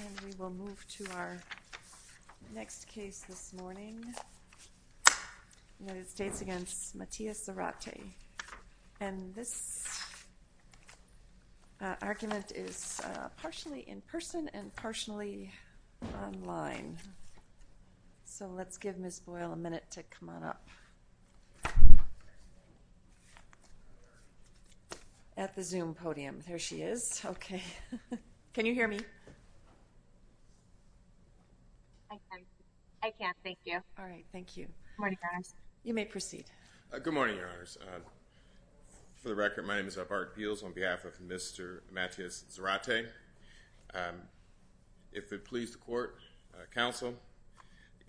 and we will move to our next case this morning. United States against Matias Zarate and this argument is partially in person and partially online. So let's give Miss Boyle a minute to come on up at the zoom podium. There she is. Okay. Can you hear me? I can. Thank you. All right. Thank you. Morning, guys. You may proceed. Good morning, your honors. For the record, my name is Bart Beals on behalf of Mr. Matias Zarate. If it please the court, counsel,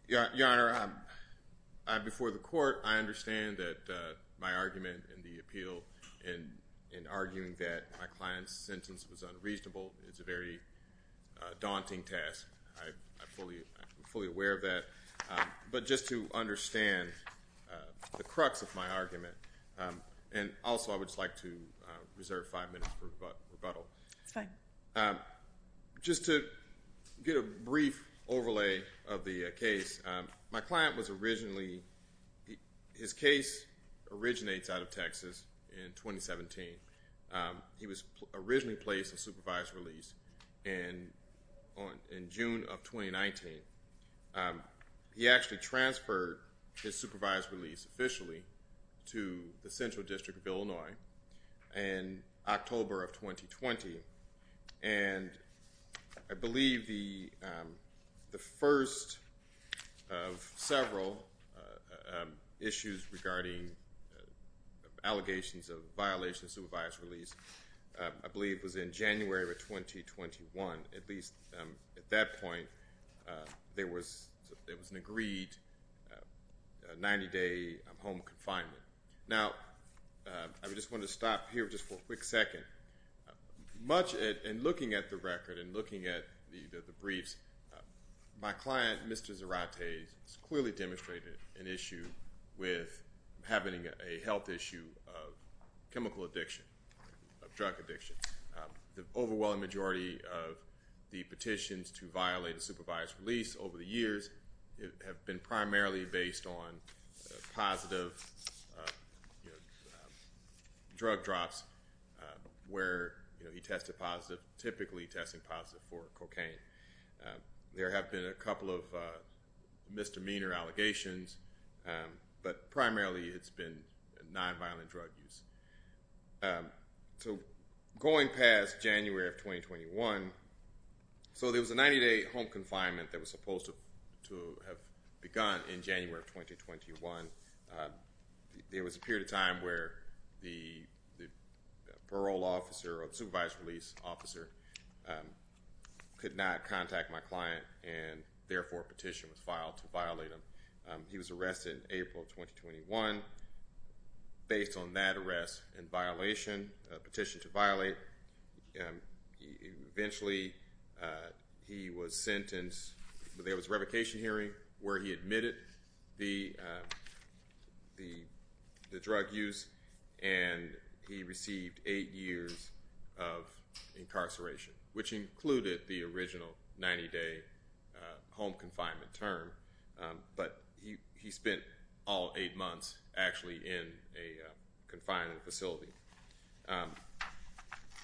your honor, before the court, I understand that my argument and the appeal in arguing that my client's sentence was unreasonable is a very daunting task. I'm fully aware of that. But just to understand the crux of my argument and also I would just like to reserve five minutes for rebuttal. That's fine. Just to get a brief overlay of the case, my client was originally, his case originates out of Texas in 2017. He was originally placed on supervised release in June of 2019. He actually transferred his supervised release officially to the Central District of Illinois in October of 2020. And I believe the first of several issues regarding allegations of violation of supervised release, I believe was in January of 2021. At least at that point, there was an agreed 90-day home confinement. Now, I just want to stop here just for a quick second. Much in looking at the record and looking at the briefs, my client, Mr. Zarate, clearly demonstrated an issue with having a health issue of chemical addiction, of drug addiction. The overwhelming majority of the petitions to violate a supervised release over the years have been primarily based on positive drug drops where he tested positive, typically testing positive for cocaine. There have been a couple of misdemeanor allegations, but primarily it's been nonviolent drug use. So going past January of 2021, so there was a 90-day home confinement that was supposed to have begun in January of 2021. There was a period of time where the parole officer or the supervised release officer could not contact my client and therefore a petition was filed to violate him. He was finally, eventually he was sentenced. There was a revocation hearing where he admitted the drug use and he received eight years of incarceration, which included the original 90-day home confinement term, but he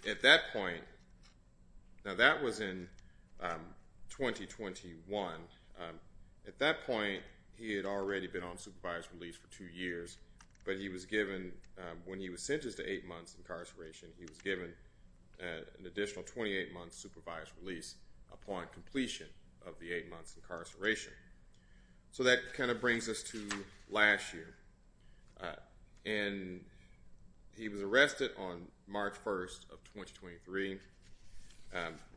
at that point, now that was in 2021. At that point, he had already been on supervised release for two years, but he was given, when he was sentenced to eight months incarceration, he was given an additional 28 months supervised release upon completion of the eight months incarceration. So that kind of brings us to last year. And he was arrested on March 1st of 2023.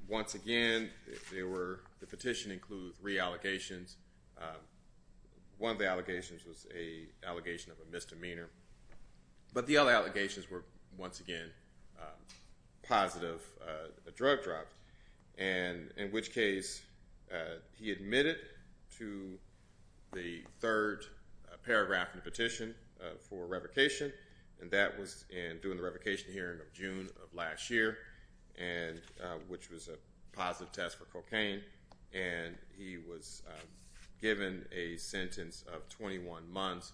Once again, the petition includes re-allegations. One of the allegations was an allegation of a misdemeanor, but the other allegations were once again, positive drug and in which case he admitted to the third paragraph in the petition for revocation. And that was in doing the revocation hearing of June of last year, and which was a positive test for cocaine. And he was given a sentence of 21 years.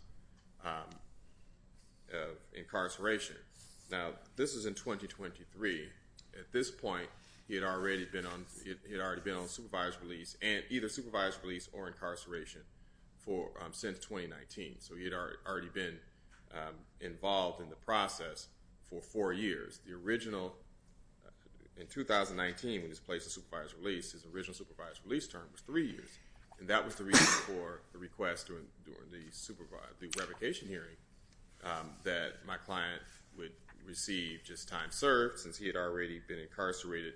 He had already been on, he had already been on supervised release and either supervised release or incarceration for since 2019. So he had already been involved in the process for four years. The original, in 2019, when he was placed in supervised release, his original supervised release term was three years. And that was the reason for the request during the supervised revocation hearing that my client would receive just time served since he had already been incarcerated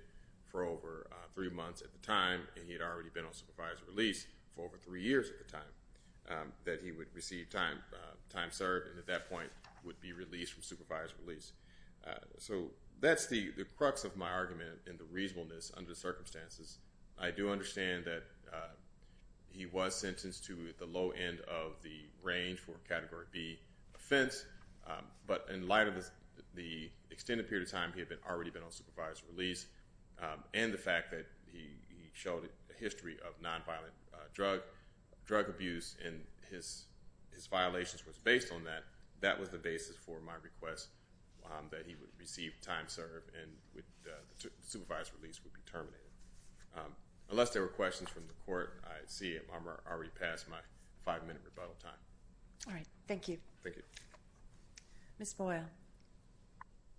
for over three months at the time. And he had already been on supervised release for over three years at the time that he would receive time, time served. And at that point would be released from supervised release. So that's the crux of my argument in the reasonableness under the circumstances. I do understand that he was sentenced to the low end of the range for category B offense. But in light of the extended period of time that he had already been on supervised release, and the fact that he showed a history of nonviolent drug, drug abuse, and his, his violations was based on that. That was the basis for my request that he would receive time served and with supervised release would be terminated. Unless there were questions from the court, I see I'm already past my five minute rebuttal time. All right. Thank you. Thank you. Ms. Boyle.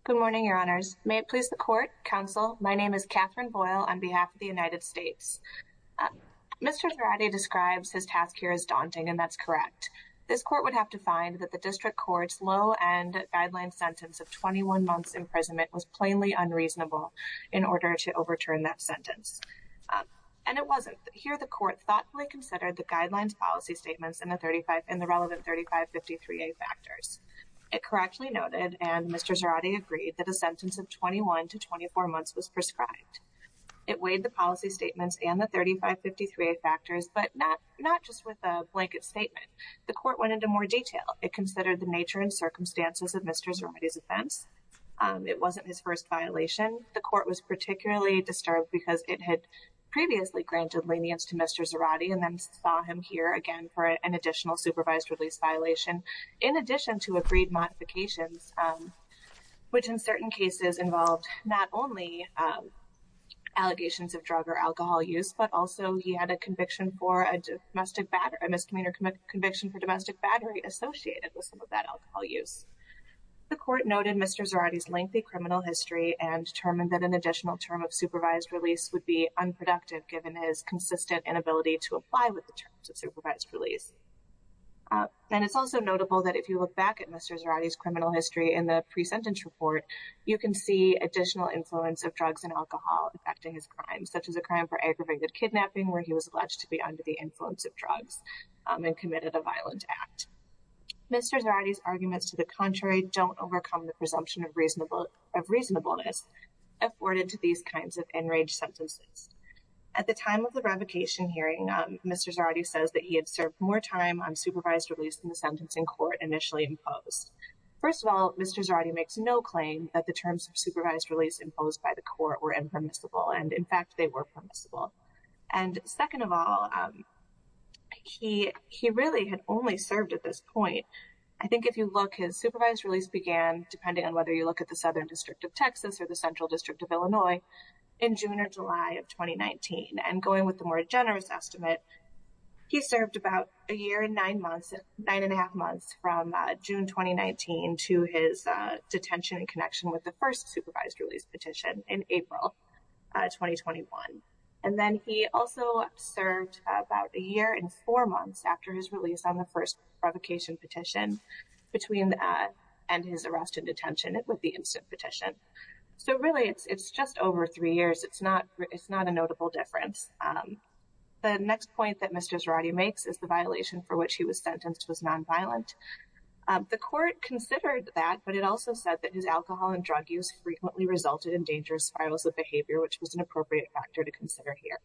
Good morning, Your Honors. May it please the court, counsel. My name is Catherine Boyle on behalf of the United States. Mr. Gerardi describes his task here as daunting, and that's correct. This court would have to find that the district court's low end guideline sentence of 21 months imprisonment was plainly unreasonable in order to overturn that sentence. And it wasn't. Here, the district court had and Mr. Gerardi agreed that a sentence of 21 to 24 months was prescribed. It weighed the policy statements and the 3553 factors, but not, not just with a blanket statement. The court went into more detail. It considered the nature and circumstances of Mr. Gerardi's offense. It wasn't his first violation. The court was particularly disturbed because it had previously granted lenience to Mr. Gerardi and then saw him here again for an additional supervised release violation. In addition to agreed modifications, which in certain cases involved not only allegations of drug or alcohol use, but also he had a conviction for a domestic battery, a misdemeanor conviction for domestic battery associated with some of that alcohol use. The court noted Mr. Gerardi's lengthy criminal history and determined that an additional term of supervised release would be unproductive given his consistent inability to apply with the terms of supervised release. And it's also notable that if you look back at Mr. Gerardi's criminal history in the pre-sentence report, you can see additional influence of drugs and alcohol affecting his crimes, such as a crime for aggravated kidnapping, where he was alleged to be under the influence of drugs and committed a violent act. Mr. Gerardi's arguments to the contrary don't overcome the presumption of Mr. Gerardi says that he had served more time on supervised release than the sentencing court initially imposed. First of all, Mr. Gerardi makes no claim that the terms of supervised release imposed by the court were impermissible. And in fact, they were permissible. And second of all, he really had only served at this point. I think if you look, his supervised release began, depending on whether you look at the Southern District of Texas or the he served about a year and nine months, nine and a half months from June 2019 to his detention in connection with the first supervised release petition in April 2021. And then he also served about a year and four months after his release on the first provocation petition between that and his arrest and detention it would be instant petition. So really, it's it's just over three years. It's not it's not a notable difference. The next point that Mr. Gerardi makes is the violation for which he was sentenced was nonviolent. The court considered that but it also said that his alcohol and drug use frequently resulted in dangerous spirals of behavior, which was an appropriate factor to consider here.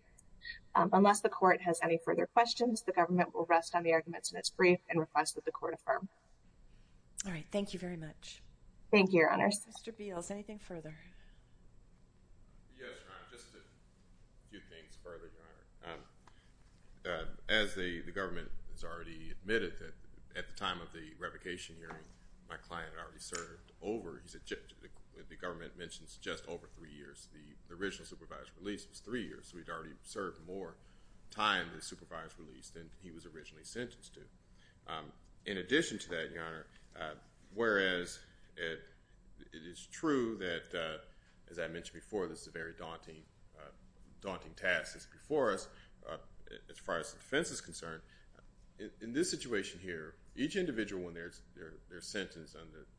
Unless the court has any further questions, the government will rest on the arguments in its brief and request that the court affirm. All right, thank you very much. Thank you, Your Honors. Mr. Beals, anything further? Yes, Your Honor, just a few things further, Your Honor. As the government has already admitted that at the time of the revocation hearing, my client already served over, the government mentions just over three years, the original supervised release was three years, so we've already served more time in the supervised release than he was originally sentenced to. In addition to that, Your Honor, whereas it is true that, as I mentioned before, this is a very daunting, daunting task that's before us. As far as the defense is concerned, in this situation here, each individual when they're they're sentenced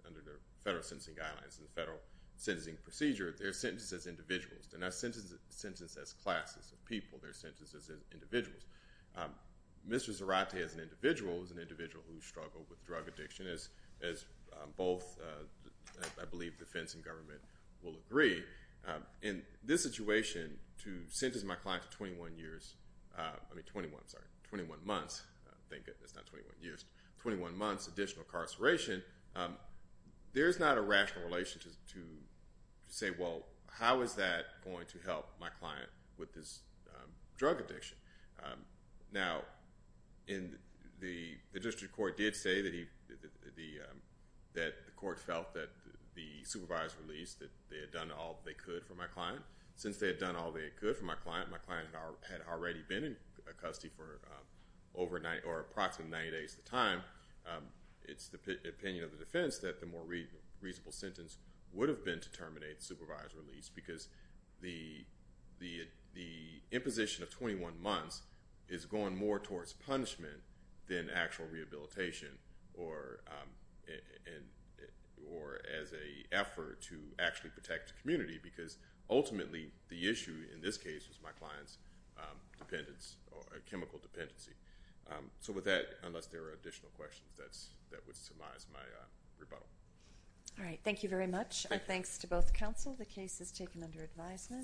under the federal sentencing guidelines and the federal sentencing procedure, they're sentenced as individuals. They're not sentenced as classes of people. They're sentenced as individuals. Mr. Zarate, as an individual, is an individual who struggled with drug addiction, as both, I believe, defense and government will agree. In this situation, to sentence my client to 21 years, I mean 21, sorry, 21 months, thank goodness, not 21 years, 21 months additional incarceration, there's not a rational relation to say, well, how is that going to help my client with his drug addiction? Now, the district court did say that the court felt that the supervised release that they had done all they could for my client. Since they had done all they could for my client, my client had already been in custody for over 90, or approximately 90 days at a time, it's the opinion of the defense that the more reasonable sentence would have been to terminate the supervised release because the imposition of 21 months is going more towards punishment than actual rehabilitation or as an effort to actually protect the community because ultimately, the issue in this case was my client's chemical dependency. So with that, unless there are additional questions, that would surmise my rebuttal. All right, thank you very much. Our thanks to both counsel. The case is taken under advisement.